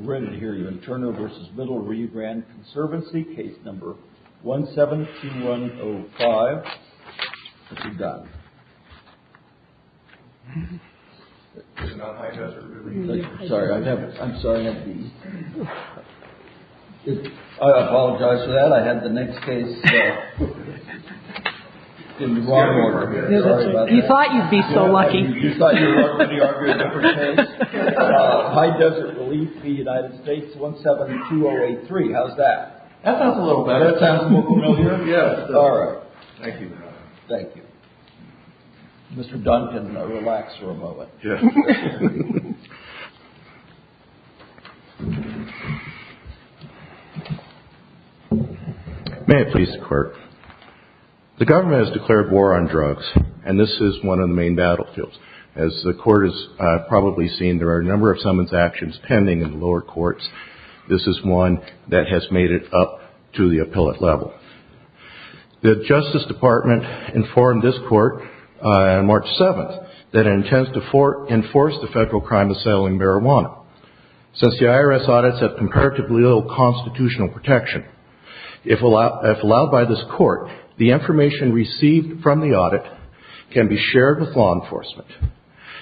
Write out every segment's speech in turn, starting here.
We're going to hear you in Turner v. Middle Rebrand, Conservancy, Case No. 172105. What you got? It's not High Desert Relief. Sorry, I'm sorry. I apologize for that. I had the next case in wrong order. You thought you'd be so lucky. You thought you were going to argue a different case? High Desert Relief v. United States, 172083. How's that? That sounds a little better. That sounds more familiar? Yes. All right. Thank you. Thank you. Mr. Duncan, relax for a moment. May it please the Court. The government has declared war on drugs, and this is one of the main battlefields. As the Court has probably seen, there are a number of summons actions pending in the lower courts. This is one that has made it up to the appellate level. The Justice Department informed this Court on March 7th that it intends to enforce the federal crime of selling marijuana. Since the IRS audits have comparatively little constitutional protection, if allowed by this Court, the information received from the audit can be shared with law enforcement,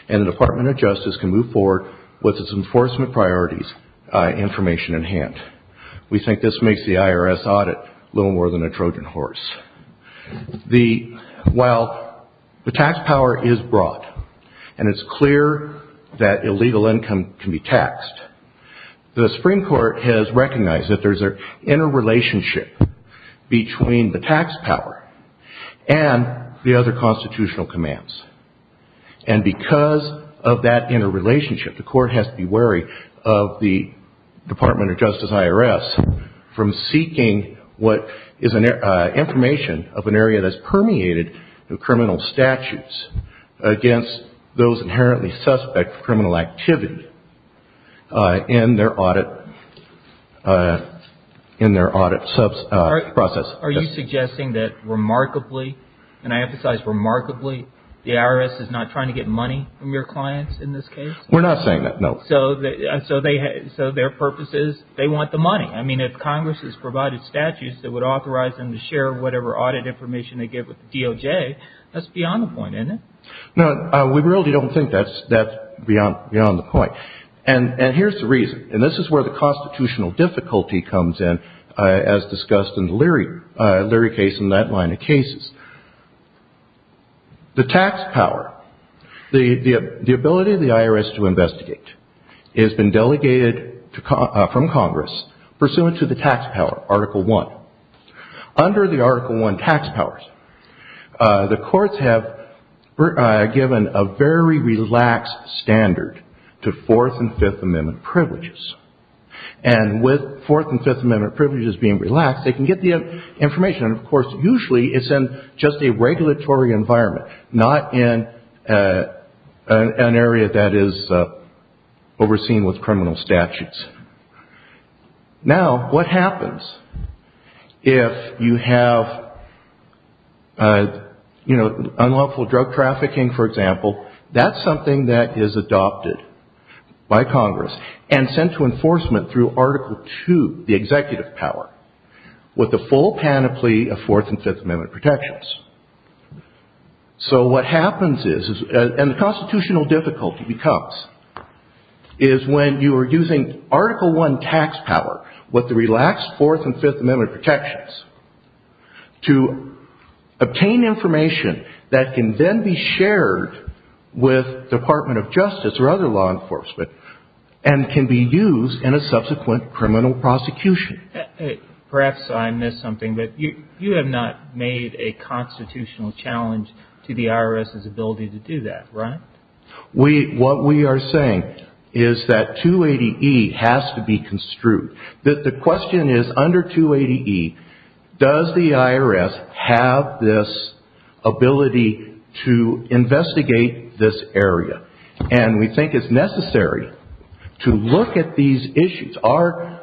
and the Department of Justice can move forward with its enforcement priorities information in hand. We think this makes the IRS audit a little more than a Trojan horse. While the tax power is broad, and it's clear that illegal income can be taxed, the Supreme Court has recognized that there's an interrelationship between the tax power and the other constitutional commands. And because of that interrelationship, the Court has to be wary of the Department of Justice IRS from seeking what is information of an area that has permeated the criminal statutes against those inherently suspect of criminal activity in their audit process. Are you suggesting that remarkably, and I emphasize remarkably, the IRS is not trying to get money from your clients in this case? We're not saying that, no. So their purpose is they want the money. I mean, if Congress has provided statutes that would authorize them to share whatever audit information they get with the DOJ, that's beyond the point, isn't it? No, we really don't think that's beyond the point. And here's the reason, and this is where the constitutional difficulty comes in, as discussed in the Leary case and that line of cases. The tax power, the ability of the IRS to investigate, has been delegated from Congress pursuant to the tax power, Article I. Under the Article I tax powers, the courts have given a very relaxed standard to Fourth and Fifth Amendment privileges. And with Fourth and Fifth Amendment privileges being relaxed, they can get the information. And, of course, usually it's in just a regulatory environment, not in an area that is overseen with criminal statutes. Now, what happens if you have, you know, unlawful drug trafficking, for example? That's something that is adopted by Congress and sent to enforcement through Article II, the executive power, with the full panoply of Fourth and Fifth Amendment protections. So what happens is, and the constitutional difficulty becomes, is when you are using Article I tax power with the relaxed Fourth and Fifth Amendment protections to obtain information that can then be shared with the Department of Justice or other law enforcement and can be used in a subsequent criminal prosecution. Perhaps I missed something, but you have not made a constitutional challenge to the IRS's ability to do that, right? What we are saying is that 280E has to be construed. The question is, under 280E, does the IRS have this ability to investigate this area? And we think it's necessary to look at these issues. Our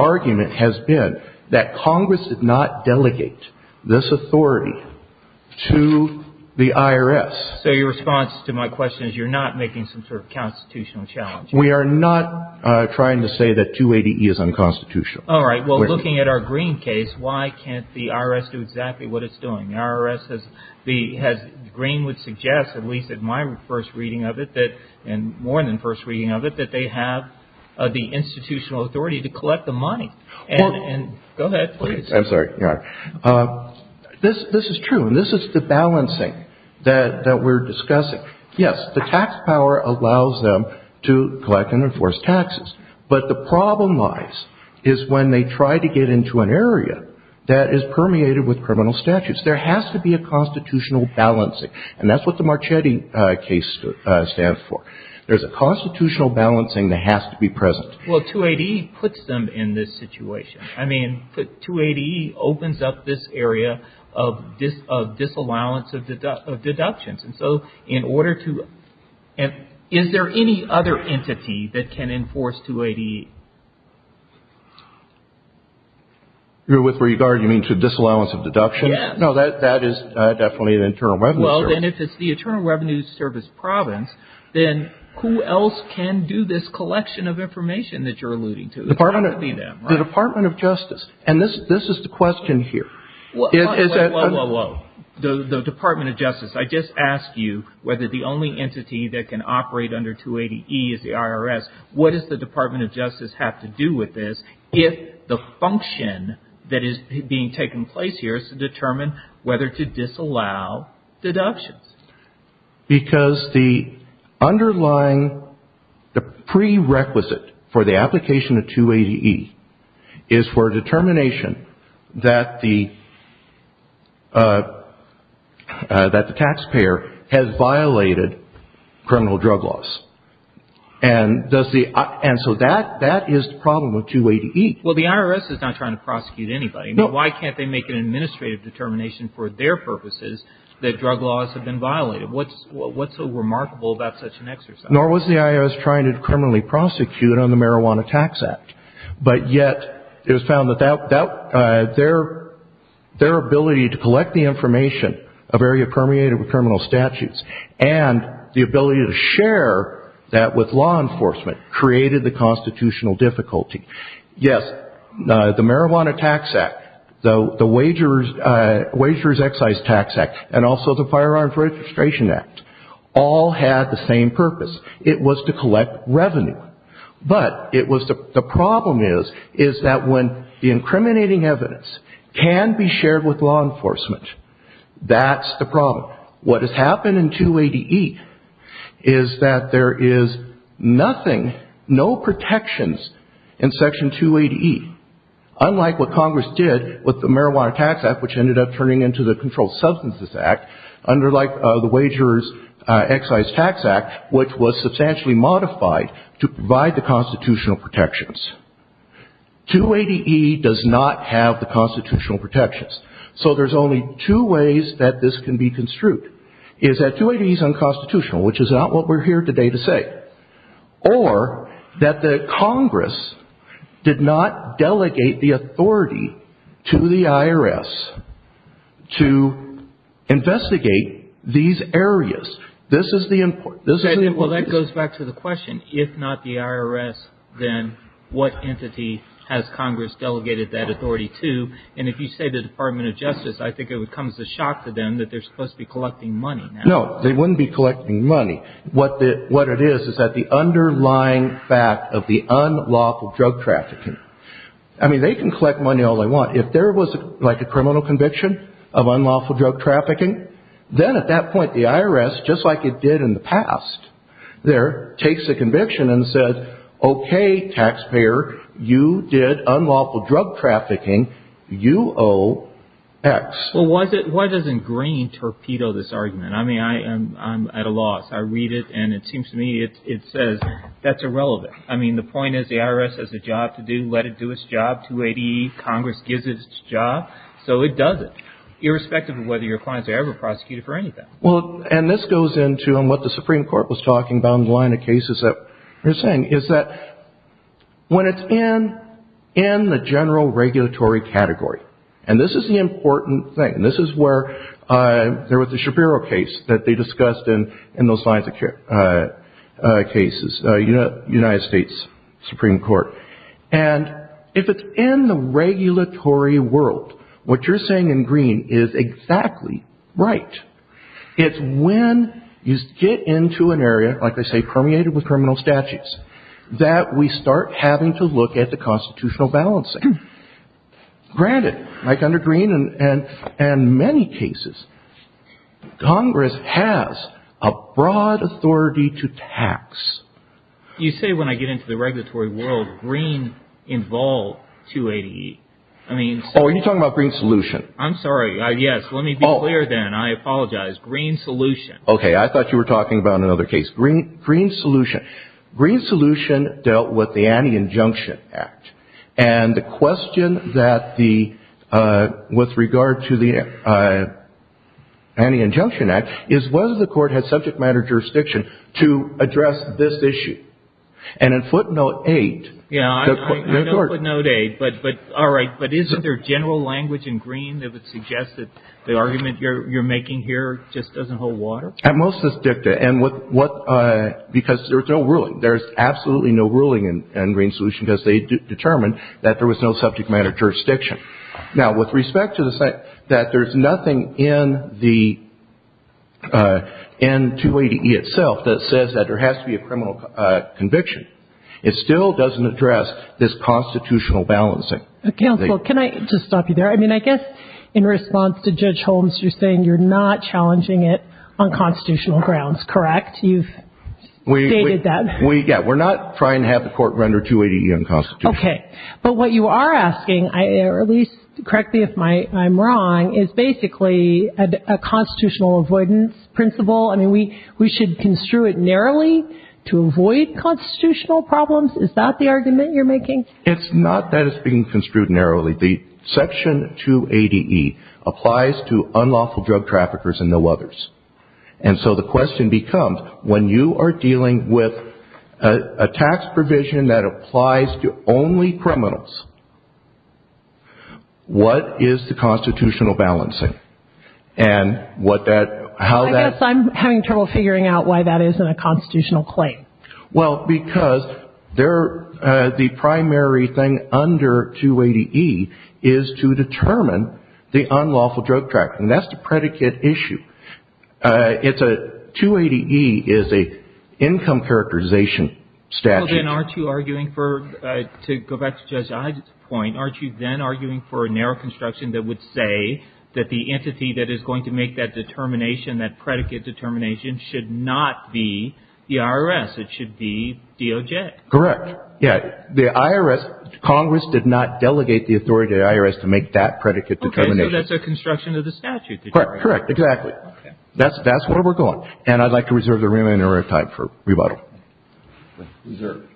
argument has been that Congress did not delegate this authority to the IRS. So your response to my question is you're not making some sort of constitutional challenge. We are not trying to say that 280E is unconstitutional. All right. Well, looking at our Green case, why can't the IRS do exactly what it's doing? The IRS has, Green would suggest, at least in my first reading of it, and more than first reading of it, that they have the institutional authority to collect the money. And go ahead, please. I'm sorry. This is true, and this is the balancing that we're discussing. Yes, the tax power allows them to collect and enforce taxes. But the problem lies is when they try to get into an area that is permeated with criminal statutes. There has to be a constitutional balancing. And that's what the Marchetti case stands for. There's a constitutional balancing that has to be present. Well, 280E puts them in this situation. I mean, 280E opens up this area of disallowance of deductions. And so in order to – is there any other entity that can enforce 280E? With regard, you mean to disallowance of deductions? Yes. No, that is definitely the Internal Revenue Service. Well, then if it's the Internal Revenue Service province, then who else can do this collection of information that you're alluding to? It's got to be them, right? The Department of Justice. And this is the question here. Whoa, whoa, whoa. The Department of Justice. I just asked you whether the only entity that can operate under 280E is the IRS. What does the Department of Justice have to do with this if the function that is being taken place here is to determine whether to disallow deductions? Because the underlying prerequisite for the application of 280E is for a determination that the taxpayer has violated criminal drug laws. And so that is the problem with 280E. Well, the IRS is not trying to prosecute anybody. Why can't they make an administrative determination for their purposes that drug laws have been violated? What's so remarkable about such an exercise? Nor was the IRS trying to criminally prosecute on the Marijuana Tax Act. But yet it was found that their ability to collect the information of area permeated with criminal statutes and the ability to share that with law enforcement created the constitutional difficulty. Yes, the Marijuana Tax Act, the Wagers Excise Tax Act, and also the Firearms Registration Act all had the same purpose. It was to collect revenue. But the problem is that when the incriminating evidence can be shared with law enforcement, that's the problem. Now, what has happened in 280E is that there is nothing, no protections in Section 280E. Unlike what Congress did with the Marijuana Tax Act, which ended up turning into the Controlled Substances Act, under the Wagers Excise Tax Act, which was substantially modified to provide the constitutional protections. 280E does not have the constitutional protections. So there's only two ways that this can be construed. It's that 280E is unconstitutional, which is not what we're here today to say. Or that the Congress did not delegate the authority to the IRS to investigate these areas. This is the important... Well, that goes back to the question. If not the IRS, then what entity has Congress delegated that authority to? And if you say the Department of Justice, I think it would come as a shock to them that they're supposed to be collecting money now. No, they wouldn't be collecting money. What it is is that the underlying fact of the unlawful drug trafficking. I mean, they can collect money all they want. If there was like a criminal conviction of unlawful drug trafficking, then at that point the IRS, just like it did in the past there, takes a conviction and says, okay, taxpayer, you did unlawful drug trafficking. You owe X. Well, why doesn't Green torpedo this argument? I mean, I'm at a loss. I read it, and it seems to me it says that's irrelevant. I mean, the point is the IRS has a job to do. Let it do its job. 280E, Congress gives its job, so it does it, irrespective of whether your clients are ever prosecuted for anything. Well, and this goes into what the Supreme Court was talking about in the line of cases that they're saying, is that when it's in the general regulatory category, and this is the important thing, this is where there was the Shapiro case that they discussed in those lines of cases, United States Supreme Court, and if it's in the regulatory world, what you're saying in Green is exactly right. It's when you get into an area, like they say, permeated with criminal statutes, that we start having to look at the constitutional balancing. Granted, like under Green and many cases, Congress has a broad authority to tax. You say when I get into the regulatory world, Green involved 280E. Oh, are you talking about Green Solution? I'm sorry. Yes. Let me be clear then. I apologize. Green Solution. Okay. I thought you were talking about another case. Green Solution. Green Solution dealt with the Anti-Injunction Act, and the question that the, with regard to the Anti-Injunction Act, is whether the court had subject matter jurisdiction to address this issue. And in footnote 8. Yeah, I know footnote 8, but all right, but is there general language in Green that would suggest that the argument you're making here just doesn't hold water? At most it's dicta, and what, because there's no ruling. There's absolutely no ruling in Green Solution, because they determined that there was no subject matter jurisdiction. Now, with respect to the fact that there's nothing in the, in 280E itself, that says that there has to be a criminal conviction, it still doesn't address this constitutional balancing. Counsel, can I just stop you there? I mean, I guess in response to Judge Holmes, you're saying you're not challenging it on constitutional grounds, correct? You've stated that. We, yeah, we're not trying to have the court render 280E unconstitutional. Okay. But what you are asking, or at least, correctly if I'm wrong, is basically a constitutional avoidance principle. I mean, we should construe it narrowly to avoid constitutional problems? Is that the argument you're making? It's not that it's being construed narrowly. Section 280E applies to unlawful drug traffickers and no others. And so the question becomes, when you are dealing with a tax provision that applies to only criminals, what is the constitutional balancing? I guess I'm having trouble figuring out why that isn't a constitutional claim. Well, because the primary thing under 280E is to determine the unlawful drug trafficking. That's the predicate issue. 280E is an income characterization statute. Well, then, aren't you arguing for, to go back to Judge Hyde's point, aren't you then arguing for a narrow construction that would say that the entity that is going to make that determination, that predicate determination, should not be the IRS. It should be DOJ. Correct. Yeah. The IRS, Congress did not delegate the authority to the IRS to make that predicate determination. Okay. So that's a construction of the statute. Correct. Correct. Exactly. Okay. That's where we're going. And I'd like to reserve the remaining area of time for rebuttal. Reserved.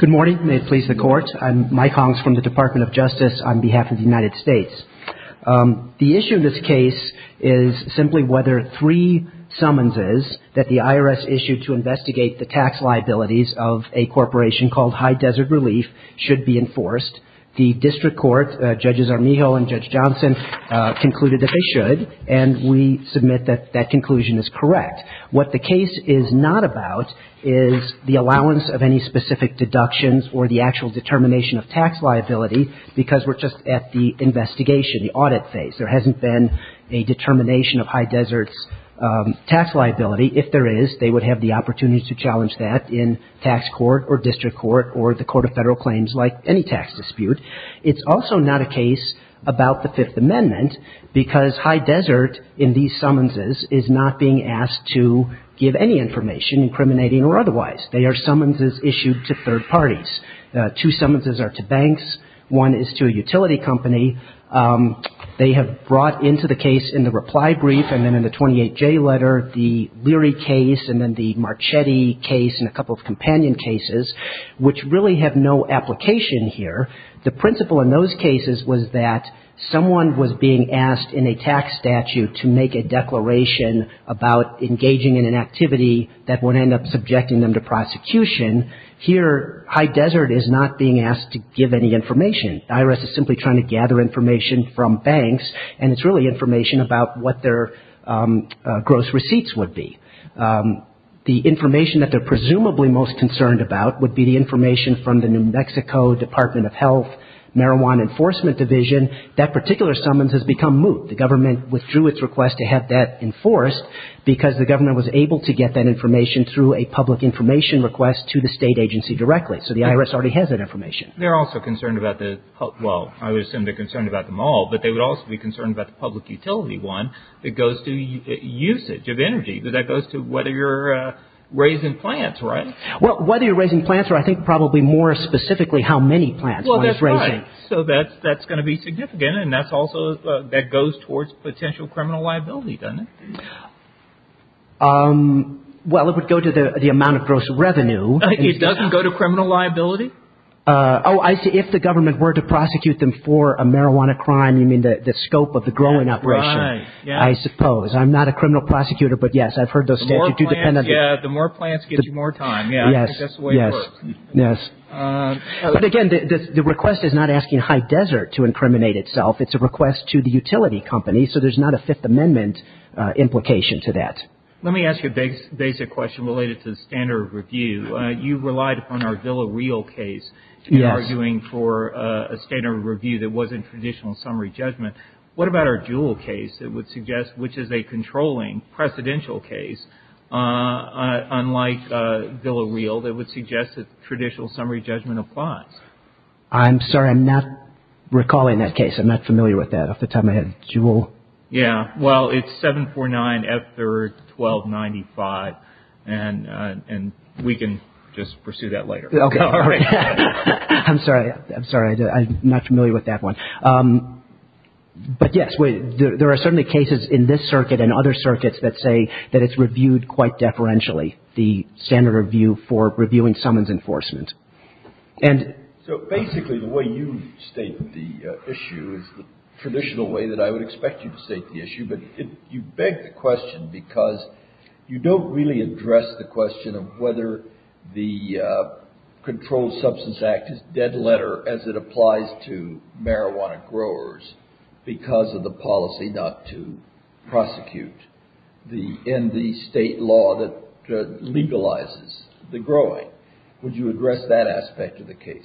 Good morning. May it please the Court. I'm Mike Hongs from the Department of Justice on behalf of the United States. The issue in this case is simply whether three summonses that the IRS issued to investigate the tax liabilities of a corporation called Hyde Desert Relief should be enforced. The district court, Judges Armijo and Judge Johnson, concluded that they should, and we submit that that conclusion is correct. What the case is not about is the allowance of any specific deductions or the actual determination of tax liability, because we're just at the investigation, the audit phase. There hasn't been a determination of Hyde Desert's tax liability. If there is, they would have the opportunity to challenge that in tax court or district court or the Court of Federal Claims, like any tax dispute. It's also not a case about the Fifth Amendment, because Hyde Desert, in these summonses, is not being asked to give any information, incriminating or otherwise. They are summonses issued to third parties. Two summonses are to banks. One is to a utility company. They have brought into the case in the reply brief and then in the 28J letter the Leary case and then the Marchetti case and a couple of companion cases, which really have no application here. The principle in those cases was that someone was being asked in a tax statute to make a declaration about engaging in an activity that would end up subjecting them to prosecution. Here, Hyde Desert is not being asked to give any information. The IRS is simply trying to gather information from banks, and it's really information about what their gross receipts would be. The information that they're presumably most concerned about would be the information from the New Mexico Department of Health Marijuana Enforcement Division. That particular summons has become moot. The government withdrew its request to have that enforced because the government was able to get that information through a public information request to the state agency directly. So the IRS already has that information. They're also concerned about the, well, I would assume they're concerned about them all, but they would also be concerned about the public utility one that goes to usage of energy. That goes to whether you're raising plants, right? Well, whether you're raising plants, or I think probably more specifically how many plants one is raising. Well, that's right. So that's going to be significant, and that goes towards potential criminal liability, doesn't it? Well, it would go to the amount of gross revenue. It doesn't go to criminal liability? Oh, I see. If the government were to prosecute them for a marijuana crime, you mean the scope of the growing operation. Right. I suppose. I'm not a criminal prosecutor, but yes, I've heard those statutes. The more plants, yeah, the more plants gives you more time. Yes. But again, the request is not asking High Desert to incriminate itself. It's a request to the utility company. So there's not a Fifth Amendment implication to that. Let me ask you a basic question related to the standard of review. You relied upon our Villa Real case in arguing for a standard of review that wasn't traditional summary judgment. What about our Juul case that would suggest which is a controlling precedential case? Unlike Villa Real, that would suggest that traditional summary judgment applies. I'm sorry. I'm not recalling that case. I'm not familiar with that at the time I had Juul. Yeah. Well, it's 749 F3rd 1295, and we can just pursue that later. I'm sorry. I'm sorry. I'm not familiar with that one. But yes, there are certainly cases in this circuit and other circuits that say that it's reviewed quite deferentially, the standard review for reviewing summons enforcement. So basically the way you state the issue is the traditional way that I would expect you to state the issue. But you beg the question because you don't really address the question of whether the controlled substance act is dead letter as it applies to marijuana growers because of the policy not to prosecute in the state law that legalizes the growing. Would you address that aspect of the case?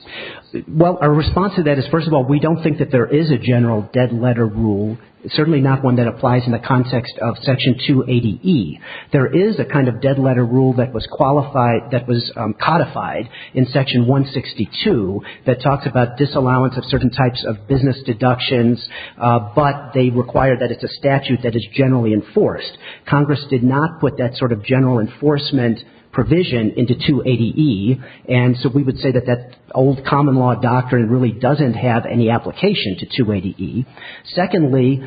Well, our response to that is, first of all, we don't think that there is a general dead letter rule, certainly not one that applies in the context of Section 280E. There is a kind of dead letter rule that was qualified, that was codified in Section 162 that talks about disallowance of certain types of business deductions, but they require that it's a statute that is generally enforced. Congress did not put that sort of general enforcement provision into 280E, and so we would say that that old common law doctrine really doesn't have any application to 280E. Secondly,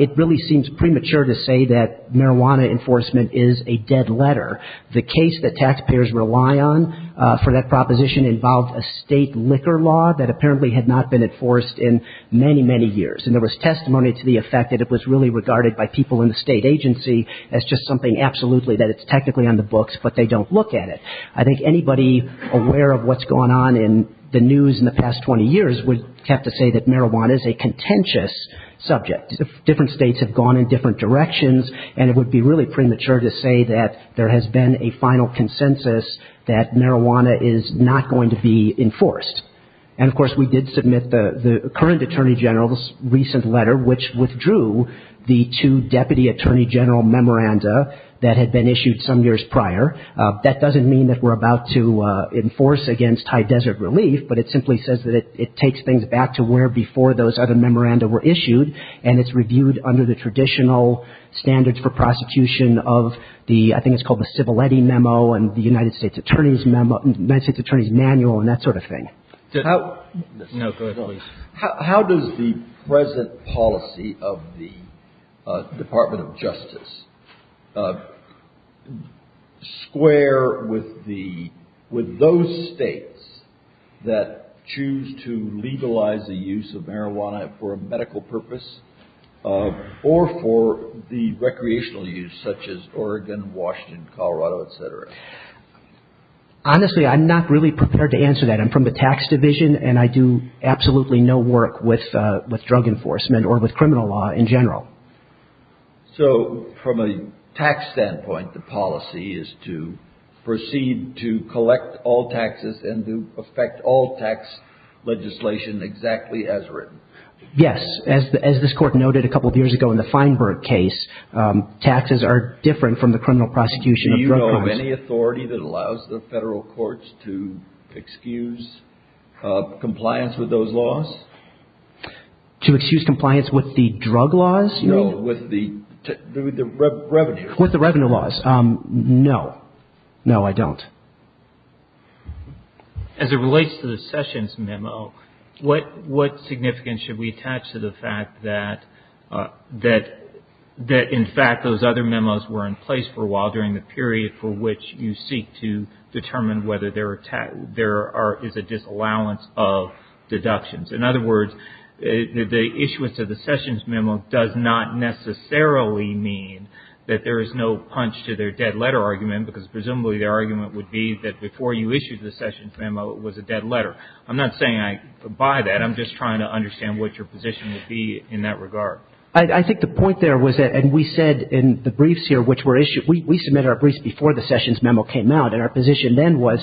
it really seems premature to say that marijuana enforcement is a dead letter. The case that taxpayers rely on for that proposition involved a state liquor law that apparently had not been enforced in many, many years. And there was testimony to the effect that it was really regarded by people in the state agency as just something absolutely that it's technically on the books, but they don't look at it. I think anybody aware of what's gone on in the news in the past 20 years would have to say that marijuana is a contentious subject. Different states have gone in different directions, and it would be really premature to say that there has been a final consensus that marijuana is not going to be enforced. And, of course, we did submit the current Attorney General's recent letter, which withdrew the two Deputy Attorney General memoranda that had been issued some years prior. That doesn't mean that we're about to enforce against high desert relief, but it simply says that it takes things back to where before those other memoranda were issued, and it's reviewed under the traditional standards for prosecution of the — I think it's called the Civiletti Memo and the United States Attorney's Memo — United States Attorney's Manual and that sort of thing. How — No. Go ahead, please. How does the present policy of the Department of Justice square with the — that choose to legalize the use of marijuana for a medical purpose or for the recreational use, such as Oregon, Washington, Colorado, et cetera? Honestly, I'm not really prepared to answer that. I'm from the tax division, and I do absolutely no work with drug enforcement or with criminal law in general. So, from a tax standpoint, the policy is to proceed to collect all taxes and to effect all tax legislation exactly as written. Yes. As this Court noted a couple of years ago in the Feinberg case, taxes are different from the criminal prosecution of drug laws. Do you know of any authority that allows the federal courts to excuse compliance with those laws? To excuse compliance with the drug laws? No, with the revenue. With the revenue laws. No. No, I don't. As it relates to the Sessions memo, what significance should we attach to the fact that, in fact, those other memos were in place for a while during the period for which you seek to determine whether there is a disallowance of deductions? In other words, the issuance of the Sessions memo does not necessarily mean that there is no punch to their dead letter argument, because presumably their argument would be that before you issued the Sessions memo, it was a dead letter. I'm not saying I buy that. I'm just trying to understand what your position would be in that regard. I think the point there was that, and we said in the briefs here which were issued, we submitted our briefs before the Sessions memo came out, and our position then was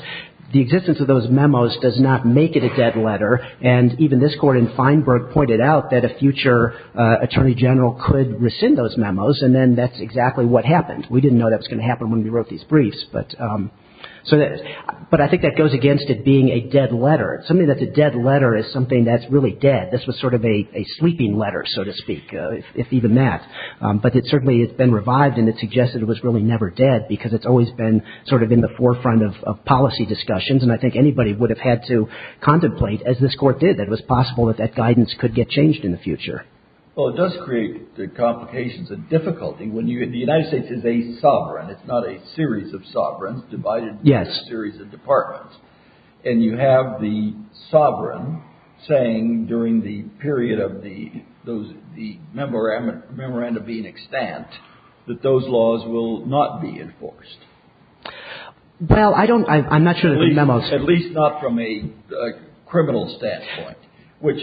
the existence of those memos does not make it a dead letter, and even this Court in Feinberg pointed out that a future attorney general could rescind those memos, and then that's exactly what happened. We didn't know that was going to happen when we wrote these briefs, but I think that goes against it being a dead letter. It's something that's a dead letter is something that's really dead. This was sort of a sleeping letter, so to speak, if even that. But it certainly has been revived, and it suggests that it was really never dead because it's always been sort of in the forefront of policy discussions, and I think anybody would have had to contemplate, as this Court did, that it was possible that that guidance could get changed in the future. Well, it does create complications and difficulty. The United States is a sovereign. It's not a series of sovereigns divided into a series of departments, and you have the sovereign saying during the period of the memorandum being extant that those laws will not be enforced. Well, I don't – I'm not sure there will be memos. At least not from a criminal standpoint, which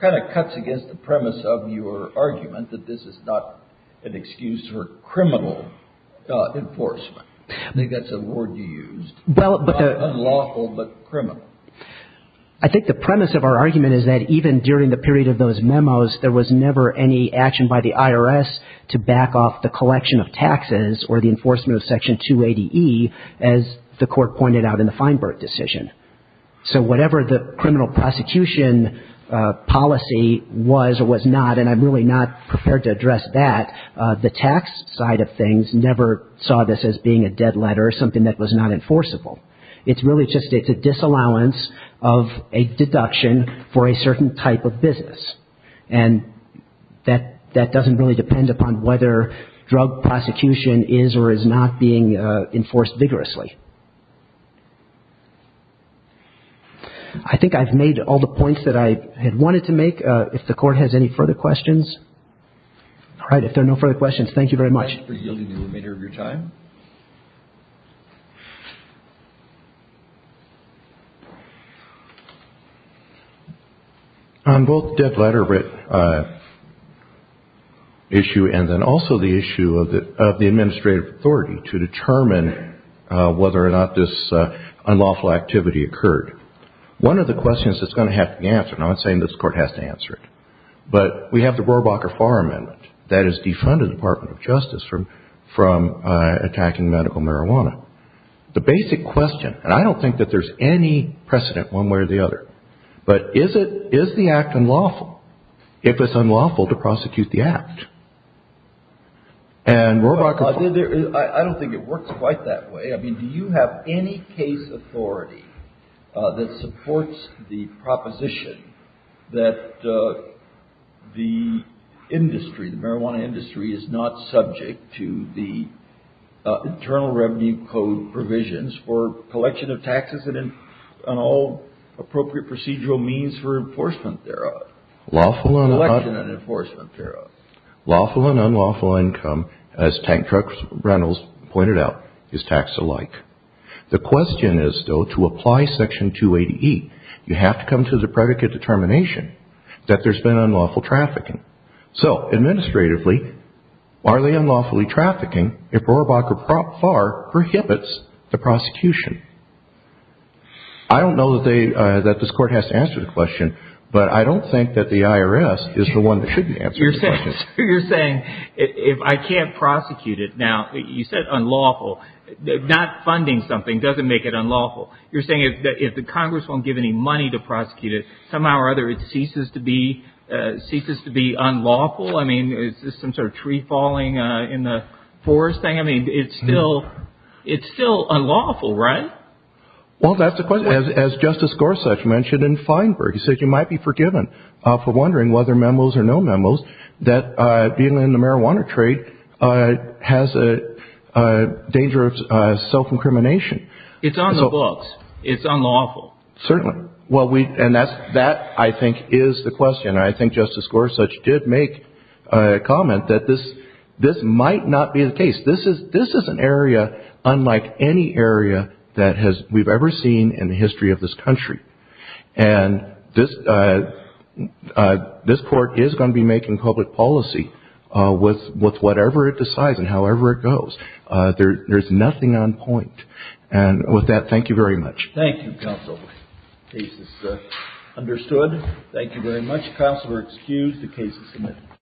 kind of cuts against the premise of your argument that this is not an excuse for criminal enforcement. I think that's a word you used. Unlawful, but criminal. I think the premise of our argument is that even during the period of those memos, there was never any action by the IRS to back off the collection of taxes or the enforcement of Section 280E, as the Court pointed out in the Feinberg decision. So whatever the criminal prosecution policy was or was not, and I'm really not prepared to address that, the tax side of things never saw this as being a dead letter, something that was not enforceable. It's really just a disallowance of a deduction for a certain type of business. And that doesn't really depend upon whether drug prosecution is or is not being enforced vigorously. I think I've made all the points that I had wanted to make. If the Court has any further questions. All right, if there are no further questions, thank you very much. Thank you for yielding the remainder of your time. Thank you. On both the dead letter issue and then also the issue of the administrative authority to determine whether or not this unlawful activity occurred, one of the questions that's going to have to be answered, and I'm not saying this Court has to answer it, but we have the Rohrabacher-Farr Amendment that is defunded the Department of Justice from attacking medical marijuana. The basic question, and I don't think that there's any precedent one way or the other, but is the act unlawful if it's unlawful to prosecute the act? I don't think it works quite that way. I mean, do you have any case authority that supports the proposition that the industry, the marijuana industry, is not subject to the Internal Revenue Code provisions for collection of taxes and all appropriate procedural means for enforcement thereof? Lawful and unlawful income, as Tank Truck Reynolds pointed out, is tax alike. The question is, though, to apply Section 280E, you have to come to the predicate determination that there's been unlawful trafficking. So, administratively, are they unlawfully trafficking if Rohrabacher-Farr prohibits the prosecution? I don't know that this Court has to answer the question, but I don't think that the IRS is the one that shouldn't answer the question. You're saying, if I can't prosecute it. Now, you said unlawful. Not funding something doesn't make it unlawful. You're saying if the Congress won't give any money to prosecute it, somehow or other it ceases to be unlawful? I mean, is this some sort of tree falling in the forest thing? I mean, it's still unlawful, right? Well, that's the question. As Justice Gorsuch mentioned in Feinberg, he said you might be forgiven for wondering whether memos are no memos, that being in the marijuana trade has a danger of self-incrimination. It's on the books. It's unlawful. Certainly. And that, I think, is the question. I think Justice Gorsuch did make a comment that this might not be the case. This is an area unlike any area that we've ever seen in the history of this country. And this court is going to be making public policy with whatever it decides and however it goes. There's nothing on point. And with that, thank you very much. Thank you, Counsel. Case is understood. Thank you very much. Counsel are excused. The case is submitted.